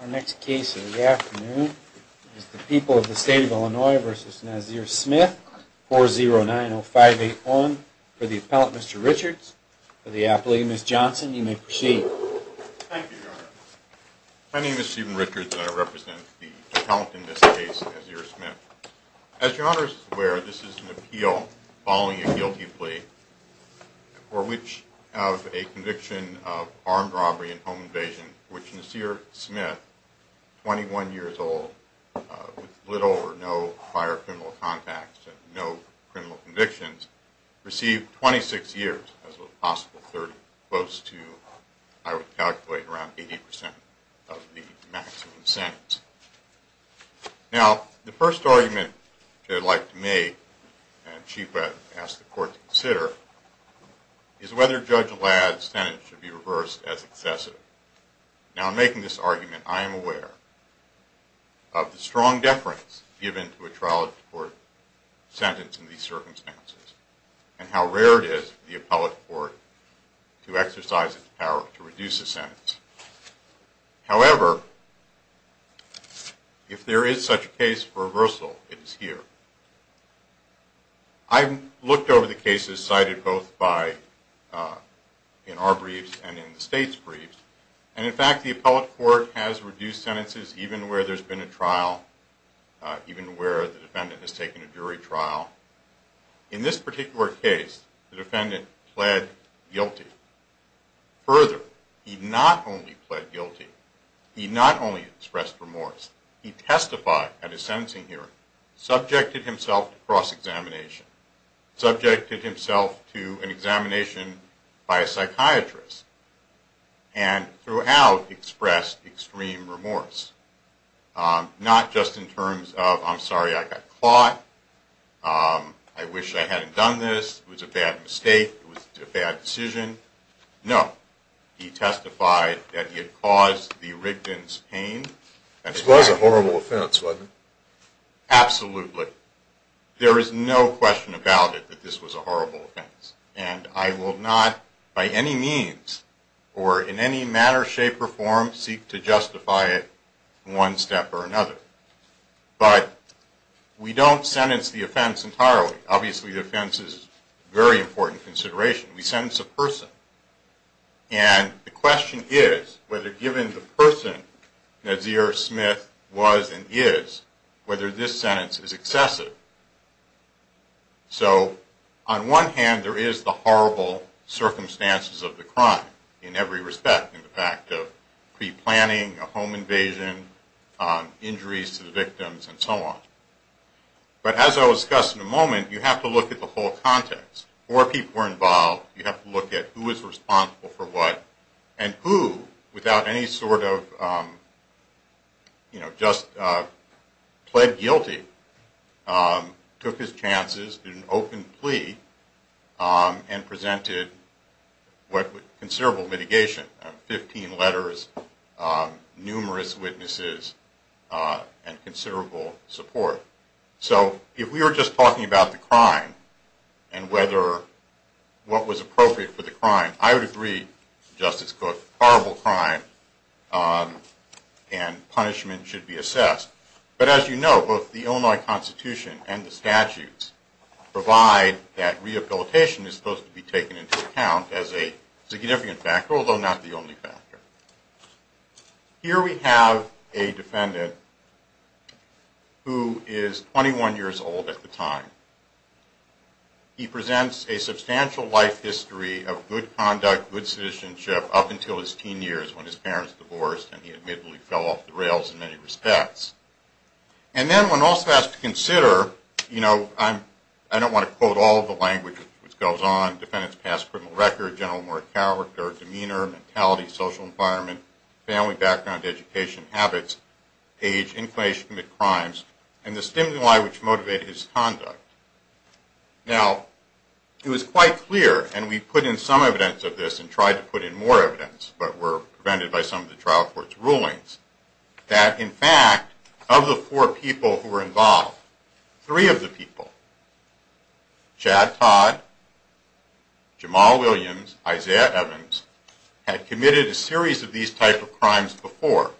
Our next case of the afternoon is the People of the State of Illinois v. Nazir Smith, 4090581. For the appellant, Mr. Richards. For the appellee, Ms. Johnson. You may proceed. Thank you, Your Honor. My name is Stephen Richards, and I represent the appellant in this case, Nazir Smith. As Your Honor is aware, this is an appeal following a guilty plea for which of a conviction of armed robbery and home invasion, which Nazir Smith, 21 years old, with little or no prior criminal contacts and no criminal convictions, received 26 years, as well as a possible 30. Close to, I would calculate, around 80% of the maximum sentence. Now, the first argument that I'd like to make, and I'd ask the court to consider, is whether Judge Allad's sentence should be reversed as excessive. Now, in making this argument, I am aware of the strong deference given to a trial-of-the-court sentence in these circumstances and how rare it is for the appellate court to exercise its power to reduce a sentence. However, if there is such a case for reversal, it is here. I've looked over the cases cited both in our briefs and in the State's briefs, and in fact, the appellate court has reduced sentences even where there's been a trial, even where the defendant has taken a jury trial. In this particular case, the defendant pled guilty. Further, he not only pled guilty, he not only expressed remorse, he testified at a sentencing hearing, subjected himself to cross-examination, subjected himself to an examination by a psychiatrist, and throughout expressed extreme remorse. Not just in terms of, I'm sorry I got caught, I wish I hadn't done this, it was a bad mistake, it was a bad decision. No. He testified that he had caused the Rigdon's pain. It was a horrible offense, wasn't it? Absolutely. There is no question about it that this was a horrible offense, and I will not by any means or in any manner, shape, or form seek to justify it in one step or another. But we don't sentence the offense entirely. Obviously, the offense is a very important consideration. We sentence a person. And the question is whether given the person Nazir Smith was and is, whether this sentence is excessive. So on one hand, there is the horrible circumstances of the crime in every respect, in the fact of pre-planning, a home invasion, injuries to the victims, and so on. But as I will discuss in a moment, you have to look at the whole context. Four people were involved, you have to look at who is responsible for what, and who, without any sort of, you know, just pled guilty, took his chances, did an open plea, and presented considerable mitigation, 15 letters, numerous witnesses, and considerable support. So if we were just talking about the crime, and what was appropriate for the crime, I would agree, Justice Cook, horrible crime and punishment should be assessed. But as you know, both the Illinois Constitution and the statutes provide that rehabilitation is supposed to be taken into account as a significant factor, although not the only factor. Here we have a defendant who is 21 years old at the time. He presents a substantial life history of good conduct, good citizenship, up until his teen years when his parents divorced and he admittedly fell off the rails in many respects. And then one also has to consider, you know, I don't want to quote all of the language which goes on, defendants pass criminal record, general moral character, demeanor, mentality, social environment, family background, education, habits, age, inclination to commit crimes, and the stimuli which motivate his conduct. Now, it was quite clear, and we put in some evidence of this and tried to put in more evidence, but were prevented by some of the trial court's rulings, that in fact, of the four people who were involved, three of the people, Chad Todd, Jamal Williams, Isaiah Evans, had committed a series of these types of crimes before,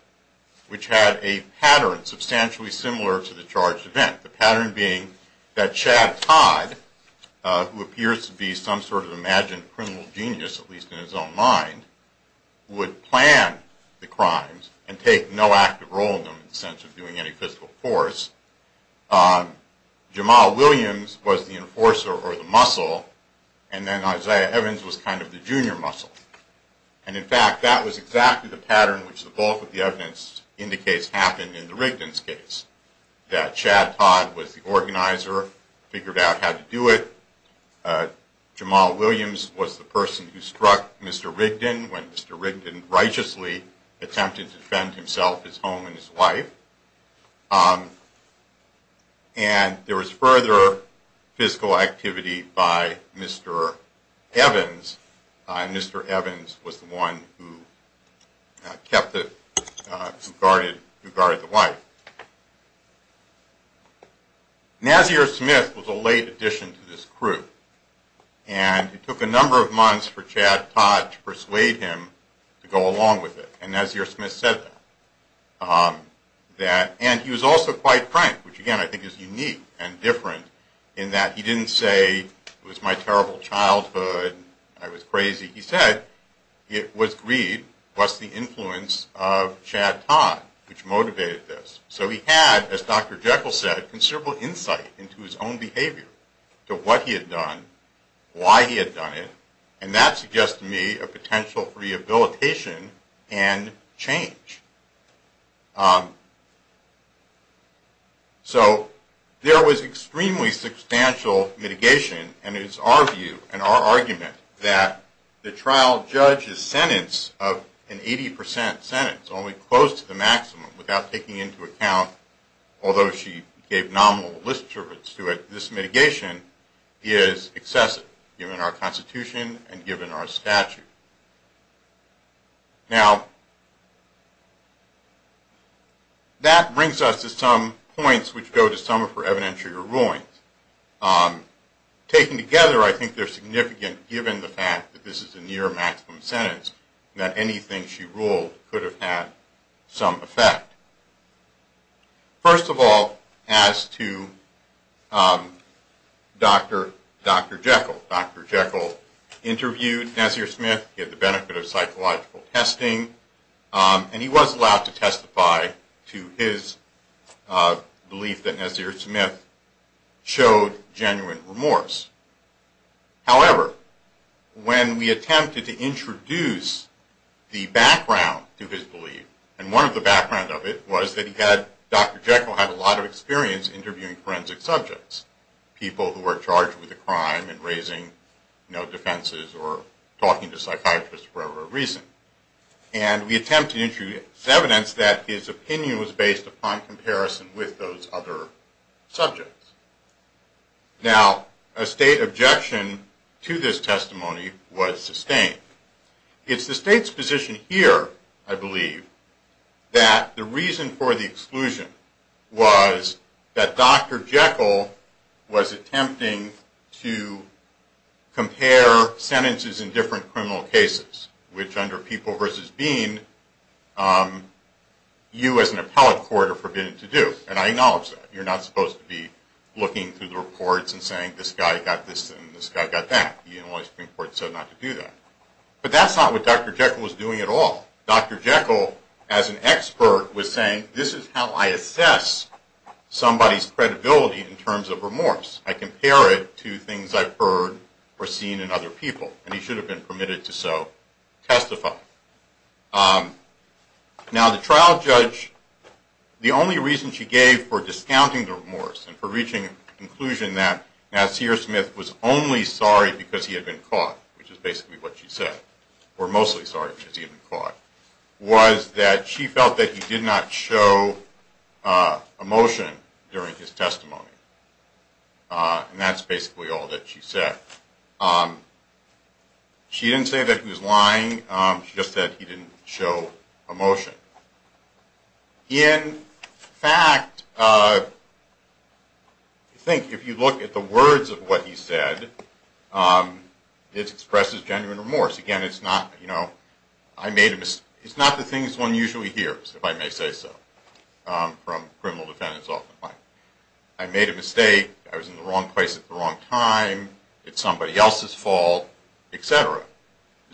which had a pattern substantially similar to the charged event. The pattern being that Chad Todd, who appears to be some sort of imagined criminal genius, at least in his own mind, would plan the crimes and take no active role in them in the sense of doing any physical force. Jamal Williams was the enforcer or the muscle, and then Isaiah Evans was kind of the junior muscle. And in fact, that was exactly the pattern which the bulk of the evidence indicates happened in the Rigdon's case, that Chad Todd was the organizer, figured out how to do it. Jamal Williams was the person who struck Mr. Rigdon when Mr. Rigdon righteously attempted to defend himself, his home, and his wife. And there was further physical activity by Mr. Evans. Mr. Evans was the one who kept it, who guarded the wife. Nazir Smith was a late addition to this crew, and it took a number of months for Chad Todd to persuade him to go along with it. And Nazir Smith said that. And he was also quite frank, which again I think is unique and different, in that he didn't say, it was my terrible childhood, I was crazy. He said, it was greed, it was the influence of Chad Todd which motivated this. So he had, as Dr. Jekyll said, considerable insight into his own behavior, to what he had done, why he had done it, and that suggests to me a potential for rehabilitation and change. So there was extremely substantial mitigation, and it is our view, and our argument, that the trial judge's sentence of an 80 percent sentence, only close to the maximum, without taking into account, although she gave nominal list service to it, this mitigation is excessive, given our Constitution and given our statute. Now, that brings us to some points which go to some of her evidentiary rulings. Taken together, I think they're significant, given the fact that this is a near maximum sentence, that anything she ruled could have had some effect. First of all, as to Dr. Jekyll. Dr. Jekyll interviewed Nasir Smith, he had the benefit of psychological testing, and he was allowed to testify to his belief that Nasir Smith showed genuine remorse. However, when we attempted to introduce the background to his belief, and one of the background of it was that Dr. Jekyll had a lot of experience interviewing forensic subjects, people who were charged with a crime and raising, you know, defenses or talking to psychiatrists for whatever reason. And we attempted to introduce evidence that his opinion was based upon comparison with those other subjects. Now, a state objection to this testimony was sustained. It's the state's position here, I believe, that the reason for the exclusion was that Dr. Jekyll was attempting to compare sentences in different criminal cases, which under People v. Bean, you as an appellate court are forbidden to do. And I acknowledge that. You're not supposed to be looking through the reports and saying, this guy got this and this guy got that. The Illinois Supreme Court said not to do that. But that's not what Dr. Jekyll was doing at all. Dr. Jekyll, as an expert, was saying, this is how I assess somebody's credibility in terms of remorse. I compare it to things I've heard or seen in other people. And he should have been permitted to so testify. Now, the trial judge, the only reason she gave for discounting the remorse and for reaching a conclusion that Nassir Smith was only sorry because he had been caught, which is basically what she said, or mostly sorry because he had been caught, was that she felt that he did not show emotion during his testimony. And that's basically all that she said. She didn't say that he was lying. She just said he didn't show emotion. In fact, I think if you look at the words of what he said, it expresses genuine remorse. Again, it's not the things one usually hears, if I may say so, from criminal defendants. I made a mistake. I was in the wrong place at the wrong time. It's somebody else's fault, et cetera.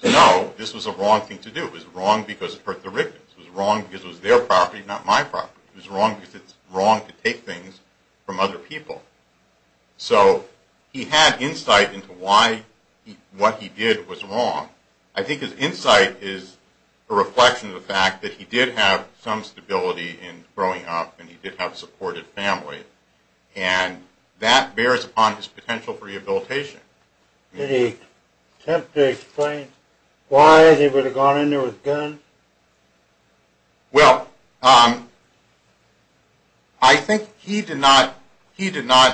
No, this was a wrong thing to do. It was wrong because it hurt the victims. It was wrong because it was their property, not my property. It was wrong because it's wrong to take things from other people. So he had insight into why what he did was wrong. I think his insight is a reflection of the fact that he did have some stability in growing up, and he did have a supportive family. And that bears upon his potential for rehabilitation. Did he attempt to explain why they would have gone in there with guns? Well, I think he did not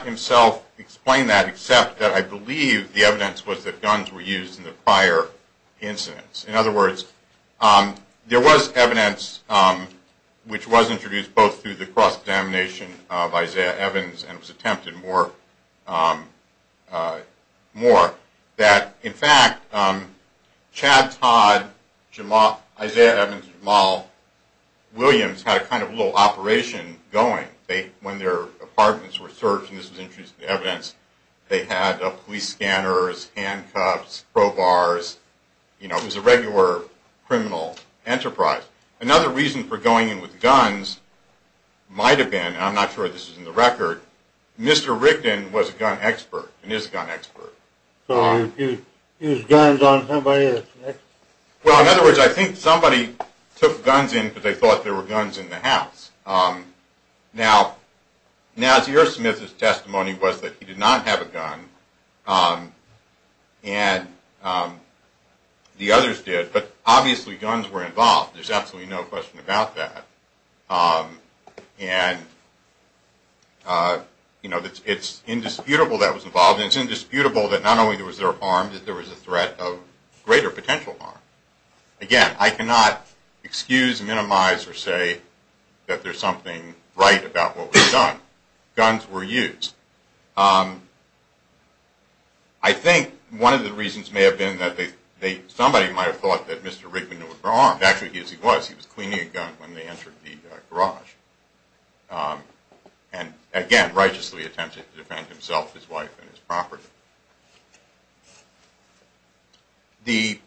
himself explain that, except that I believe the evidence was that guns were used in the prior incidents. In other words, there was evidence which was introduced both through the cross-examination of Isaiah Evans and it was attempted more that, in fact, Chad Todd, Isaiah Evans, Jamal Williams had a kind of little operation going. When their apartments were searched, and this was introduced in the evidence, they had police scanners, handcuffs, crowbars. It was a regular criminal enterprise. Another reason for going in with guns might have been, and I'm not sure this is in the record, Mr. Rickden was a gun expert and is a gun expert. So he used guns on somebody that's next? Well, in other words, I think somebody took guns in because they thought there were guns in the house. Now, Nazir Smith's testimony was that he did not have a gun, and the others did, but obviously guns were involved. There's absolutely no question about that. And it's indisputable that was involved, and it's indisputable that not only was there harm, that there was a threat of greater potential harm. Again, I cannot excuse, minimize, or say that there's something right about what was done. Guns were used. I think one of the reasons may have been that somebody might have thought that Mr. Rickden was wrong. Actually, yes, he was. He was cleaning a gun when they entered the garage, and again, righteously attempted to defend himself, his wife, and his property. The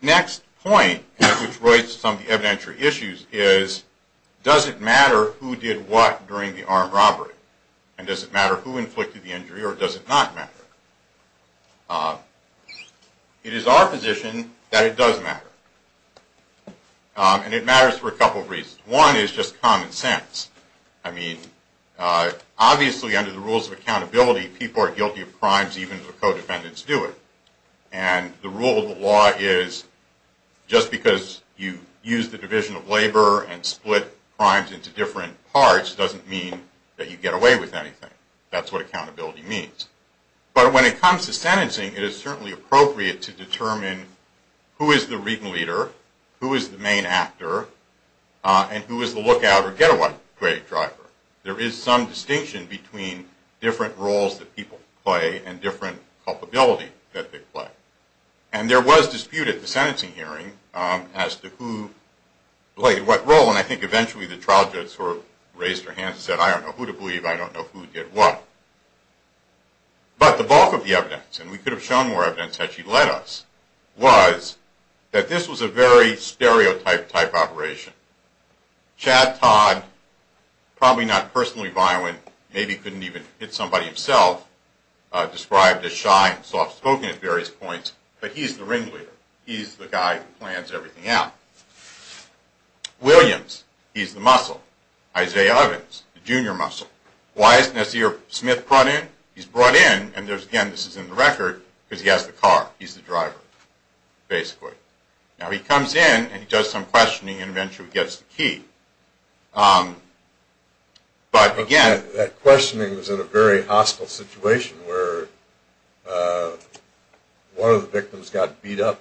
next point at which Royce summed the evidentiary issues is, does it matter who did what during the armed robbery, and does it matter who inflicted the injury, or does it not matter? It is our position that it does matter, and it matters for a couple of reasons. One is just common sense. I mean, obviously under the rules of accountability, people are guilty of crimes even if the co-defendants do it. And the rule of the law is just because you use the division of labor and split crimes into different parts doesn't mean that you get away with anything. That's what accountability means. But when it comes to sentencing, it is certainly appropriate to determine who is the reading leader, who is the main actor, and who is the lookout or getaway driver. There is some distinction between different roles that people play and different culpability that they play. And there was dispute at the sentencing hearing as to who played what role, and I think eventually the trial judge sort of raised her hand and said, I don't know who to believe, I don't know who did what. But the bulk of the evidence, and we could have shown more evidence had she led us, was that this was a very stereotype-type operation. Chad Todd, probably not personally violent, maybe couldn't even hit somebody himself, described as shy and soft-spoken at various points, but he's the ringleader. He's the guy who plans everything out. Williams, he's the muscle. Isaiah Evans, the junior muscle. Why is Nasir Smith brought in? He's brought in, and again this is in the record, because he has the car. He's the driver, basically. Now he comes in, and he does some questioning, and eventually gets the key. But again— That questioning was in a very hostile situation where one of the victims got beat up?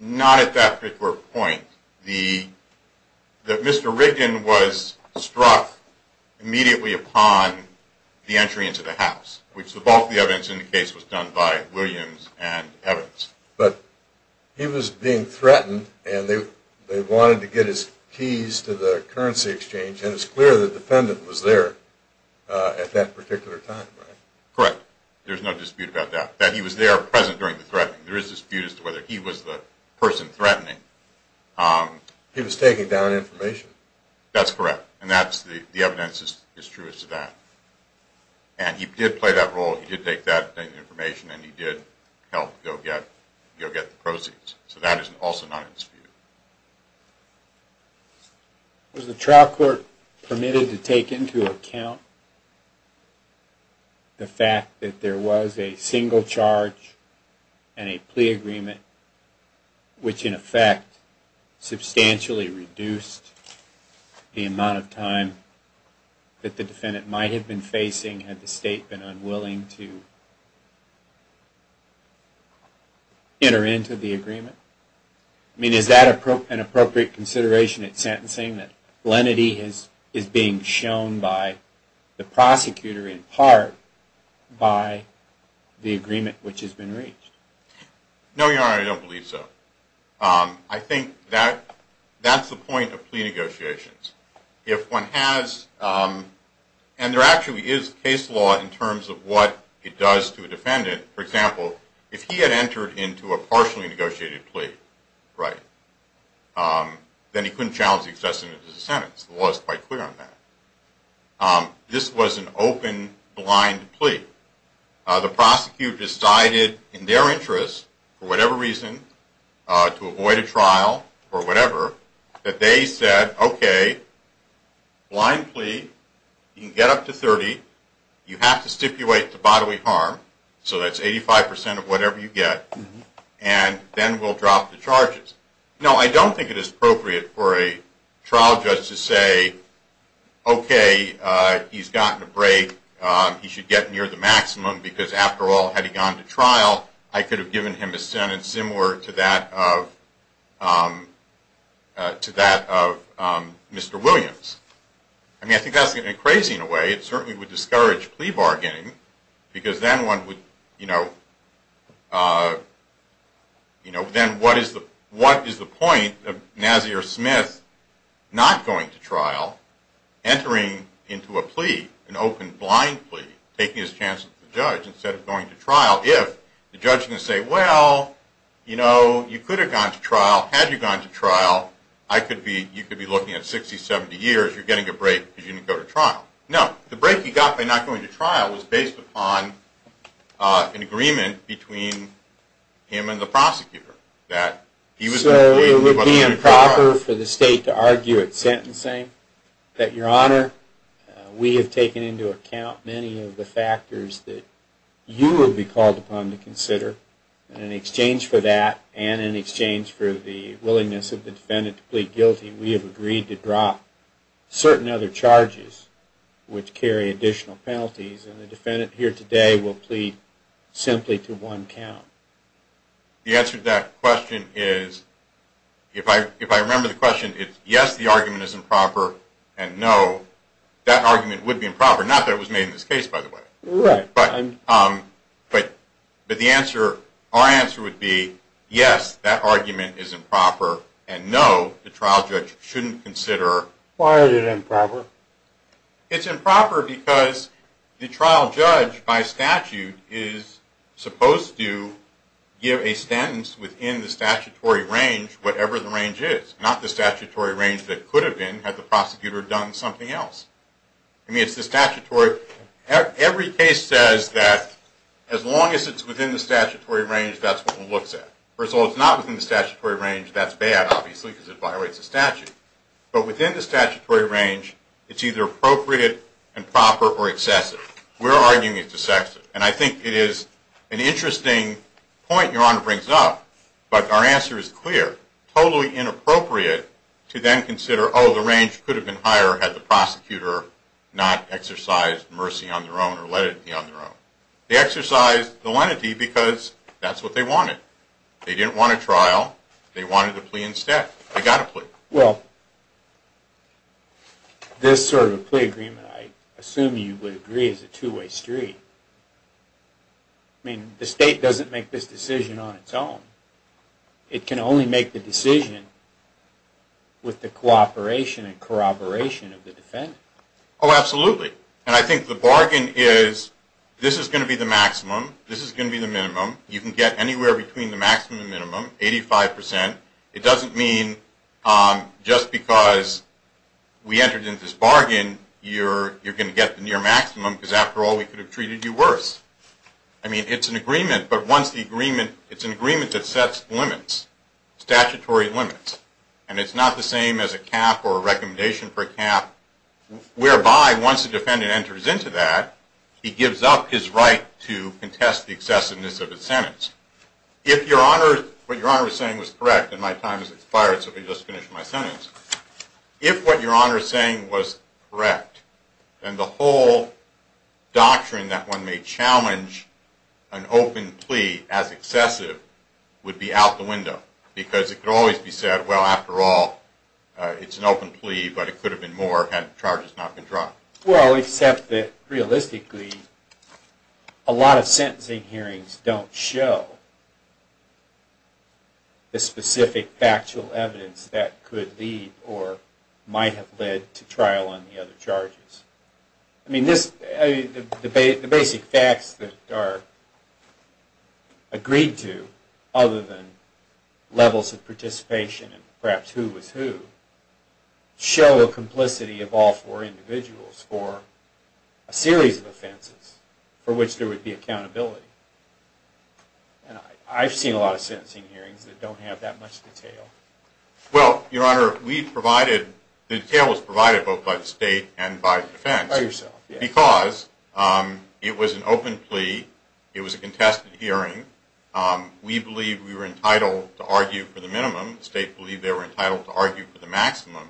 Not at that particular point. Mr. Rigdon was struck immediately upon the entry into the house, which the bulk of the evidence indicates was done by Williams and Evans. But he was being threatened, and they wanted to get his keys to the currency exchange, and it's clear the defendant was there at that particular time, right? Correct. There's no dispute about that, that he was there present during the threatening. There is dispute as to whether he was the person threatening. He was taking down information. That's correct, and the evidence is true as to that. And he did play that role. He did take that information, and he did help go get the proceeds. So that is also not in dispute. Was the trial court permitted to take into account the fact that there was a single charge and a plea agreement, which in effect substantially reduced the amount of time that the defendant might have been facing had the state been unwilling to enter into the agreement? I mean, is that an appropriate consideration at sentencing, that lenity is being shown by the prosecutor in part by the agreement which has been reached? No, Your Honor, I don't believe so. I think that's the point of plea negotiations. If one has, and there actually is case law in terms of what it does to a defendant. For example, if he had entered into a partially negotiated plea, right, then he couldn't challenge the excessive sentence. The law is quite clear on that. This was an open, blind plea. The prosecutor decided in their interest, for whatever reason, to avoid a trial or whatever, that they said, okay, blind plea, you can get up to 30, you have to stipulate the bodily harm, so that's 85% of whatever you get, and then we'll drop the charges. Now, I don't think it is appropriate for a trial judge to say, okay, he's gotten a break, he should get near the maximum, because after all, had he gone to trial, I could have given him a sentence similar to that of Mr. Williams. I mean, I think that's crazy in a way. It certainly would discourage plea bargaining, because then one would, you know, then what is the point of Nazir Smith not going to trial, entering into a plea, an open, blind plea, taking his chance with the judge instead of going to trial, if the judge can say, well, you know, you could have gone to trial, had you gone to trial, you could be looking at 60, 70 years, you're getting a break because you didn't go to trial. No, the break he got by not going to trial was based upon an agreement between him and the prosecutor that he was going to plead and he wasn't going to go to trial. Would it occur for the state to argue at sentencing that, Your Honor, we have taken into account many of the factors that you would be called upon to consider, and in exchange for that and in exchange for the willingness of the defendant to plead guilty, we have agreed to drop certain other charges which carry additional penalties, and the defendant here today will plead simply to one count? The answer to that question is, if I remember the question, it's yes, the argument is improper, and no, that argument would be improper, not that it was made in this case, by the way. But the answer, our answer would be yes, that argument is improper, and no, the trial judge shouldn't consider. Why is it improper? It's improper because the trial judge by statute is supposed to give a sentence within the statutory range, whatever the range is, not the statutory range that it could have been had the prosecutor done something else. I mean, it's the statutory. Every case says that as long as it's within the statutory range, that's what one looks at. First of all, if it's not within the statutory range, that's bad, obviously, because it violates the statute. But within the statutory range, it's either appropriate and proper or excessive. We're arguing it's excessive, and I think it is an interesting point Your Honor brings up, but our answer is clear. Totally inappropriate to then consider, oh, the range could have been higher had the prosecutor not exercised mercy on their own or let it be on their own. They exercised the lenity because that's what they wanted. They didn't want a trial. They wanted a plea instead. They got a plea. Well, this sort of a plea agreement, I assume you would agree, is a two-way street. I mean, the state doesn't make this decision on its own. It can only make the decision with the cooperation and corroboration of the defendant. Oh, absolutely. And I think the bargain is this is going to be the maximum, this is going to be the minimum. You can get anywhere between the maximum and minimum, 85%. It doesn't mean just because we entered into this bargain you're going to get the near maximum because, after all, we could have treated you worse. I mean, it's an agreement, but it's an agreement that sets limits, statutory limits, and it's not the same as a cap or a recommendation for a cap, whereby once the defendant enters into that, he gives up his right to contest the excessiveness of his sentence. What Your Honor was saying was correct, and my time has expired, so let me just finish my sentence. If what Your Honor is saying was correct, then the whole doctrine that one may challenge an open plea as excessive would be out the window because it could always be said, well, after all, it's an open plea, but it could have been more, and the charge has not been dropped. Well, except that, realistically, a lot of sentencing hearings don't show the specific factual evidence that could lead or might have led to trial on the other charges. I mean, the basic facts that are agreed to, other than levels of participation and perhaps who was who, show a complicity of all four individuals for a series of offenses for which there would be accountability. And I've seen a lot of sentencing hearings that don't have that much detail. Well, Your Honor, the detail was provided both by the State and by the defense. By yourself, yes. Because it was an open plea, it was a contested hearing, we believe we were entitled to argue for the minimum, the State believed they were entitled to argue for the maximum,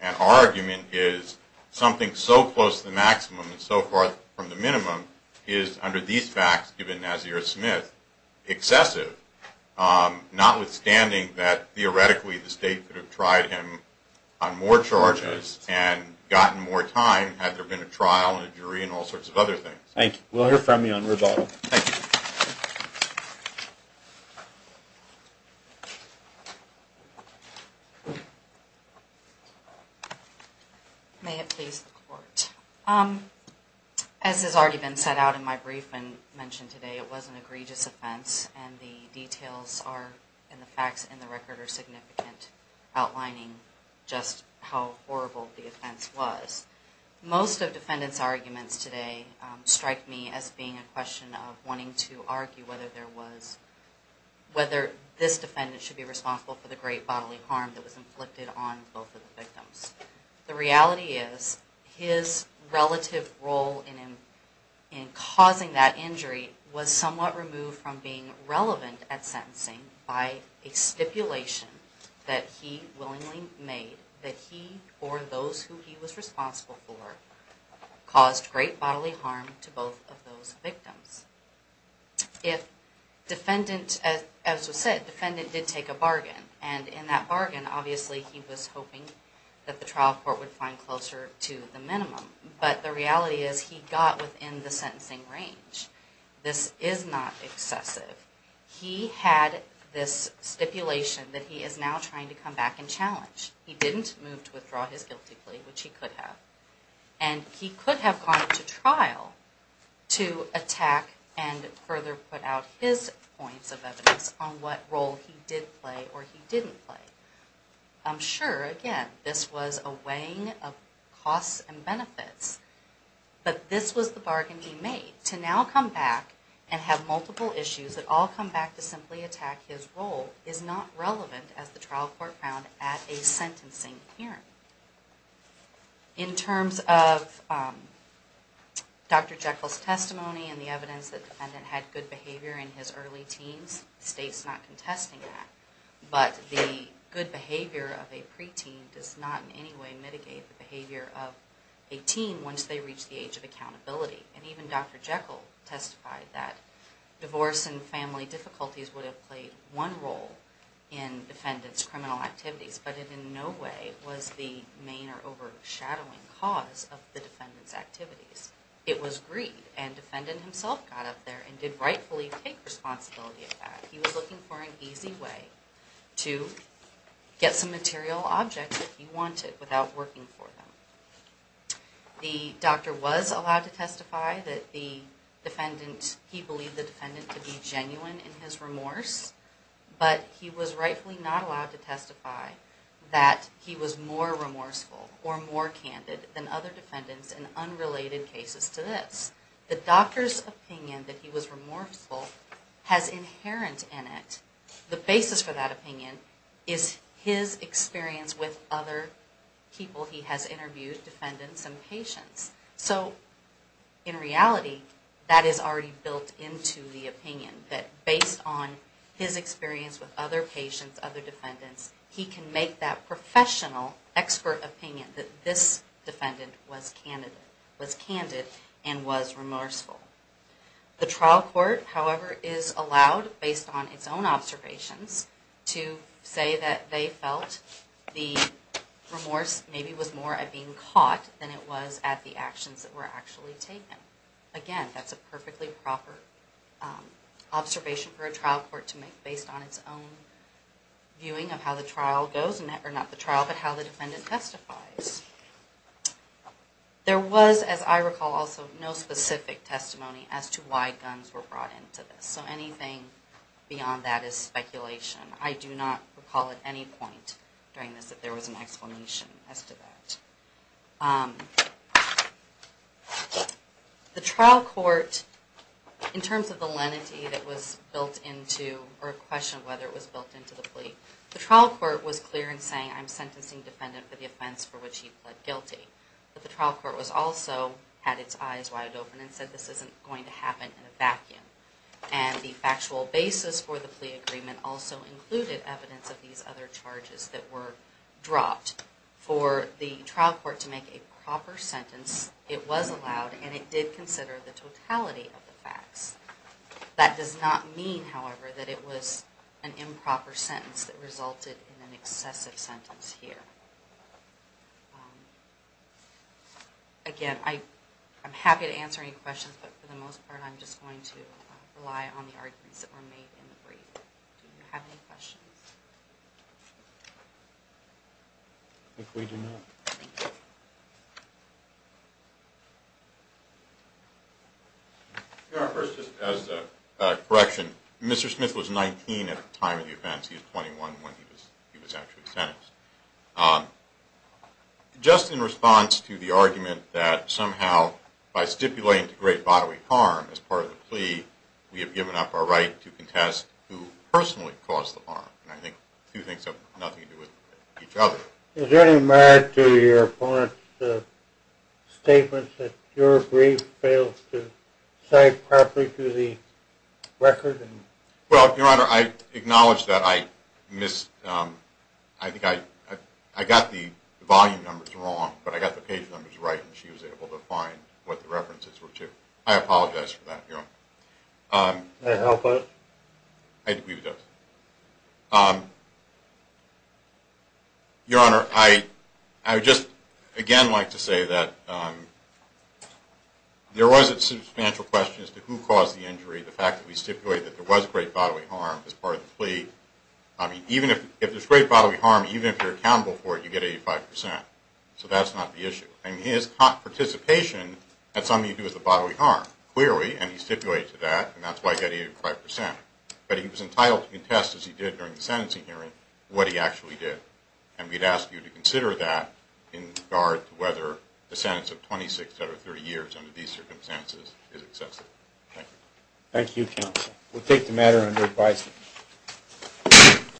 and our argument is something so close to the maximum and so far from the minimum is, under these facts given Nazir Smith, excessive, notwithstanding that theoretically the State could have tried him on more charges and gotten more time had there been a trial and a jury and all sorts of other things. Thank you. We'll hear from you on rebuttal. Thank you. May it please the Court. As has already been set out in my brief and mentioned today, it was an egregious offense and the details are, and the facts in the record are significant, outlining just how horrible the offense was. Most of defendants' arguments today strike me as being a question of wanting to argue whether there was, whether this defendant should be responsible for the great bodily harm that was inflicted on both of the victims. The reality is his relative role in causing that injury was somewhat removed from being relevant at sentencing by a stipulation that he willingly made that he or those who he was responsible for caused great bodily harm to both of those victims. If defendant, as was said, defendant did take a bargain, and in that bargain obviously he was hoping that the trial court would find closer to the minimum. But the reality is he got within the sentencing range. This is not excessive. He had this stipulation that he is now trying to come back and challenge. He didn't move to withdraw his guilty plea, which he could have. And he could have gone to trial to attack and further put out his points of evidence on what role he did play or he didn't play. I'm sure, again, this was a weighing of costs and benefits. But this was the bargain he made. To now come back and have multiple issues that all come back to simply attack his role is not relevant as the trial court found at a sentencing hearing. In terms of Dr. Jekyll's testimony and the evidence that defendant had good behavior in his early teens, the state's not contesting that. But the good behavior of a preteen does not in any way mitigate the behavior of a teen once they reach the age of accountability. And even Dr. Jekyll testified that divorce and family difficulties would have played one role in defendant's criminal activities. But it in no way was the main or overshadowing cause of the defendant's activities. It was greed. And defendant himself got up there and did rightfully take responsibility of that. He was looking for an easy way to get some material object that he wanted without working for them. The doctor was allowed to testify that the defendant, he believed the defendant to be genuine in his remorse. But he was rightfully not allowed to testify that he was more remorseful or more candid than other defendants in unrelated cases to this. The doctor's opinion that he was remorseful has inherent in it. The basis for that opinion is his experience with other people he has interviewed, defendants and patients. So in reality, that is already built into the opinion that based on his experience with other patients, other defendants, he can make that professional expert opinion that this defendant was candid and was remorseful. The trial court, however, is allowed, based on its own observations, to say that they felt the remorse maybe was more at being caught than it was at the actions that were actually taken. Again, that's a perfectly proper observation for a trial court to make based on its own viewing of how the trial goes, or not the trial, but how the defendant testifies. There was, as I recall also, no specific testimony as to why guns were brought into this. So anything beyond that is speculation. I do not recall at any point during this that there was an explanation as to that. The trial court, in terms of the lenity that was built into or a question of whether it was built into the plea, the trial court was clear in saying I'm sentencing the defendant for the offense for which he pled guilty. But the trial court also had its eyes wide open and said this isn't going to happen in a vacuum. And the factual basis for the plea agreement also included evidence of these other charges that were dropped. For the trial court to make a proper sentence, it was allowed and it did consider the totality of the facts. That does not mean, however, that it was an improper sentence that resulted in an excessive sentence here. Again, I'm happy to answer any questions, but for the most part I'm just going to rely on the arguments that were made in the brief. Do you have any questions? If we do not, thank you. Your Honor, first just as a correction, Mr. Smith was 19 at the time of the offense. He was 21 when he was actually sentenced. Just in response to the argument that somehow by stipulating to great bodily harm as part of the plea, we have given up our right to contest who personally caused the harm. I think two things have nothing to do with each other. Is there any merit to your opponent's statements that your brief fails to cite properly to the record? Well, Your Honor, I acknowledge that I got the volume numbers wrong, but I got the page numbers right and she was able to find what the references were to. I apologize for that, Your Honor. Does that help us? I agree with that. Your Honor, I would just again like to say that there was a substantial question as to who caused the injury. The fact that we stipulated that there was great bodily harm as part of the plea, I mean, if there's great bodily harm, even if you're accountable for it, you get 85%. So that's not the issue. I mean, his participation had something to do with the bodily harm, clearly, and he stipulated to that, and that's why he got 85%. But he was entitled to contest, as he did during the sentencing hearing, what he actually did. And we'd ask you to consider that in regard to whether the sentence of 26 out of 30 years under these circumstances is excessive. Thank you. Thank you, Counsel. We'll take the matter under advisory.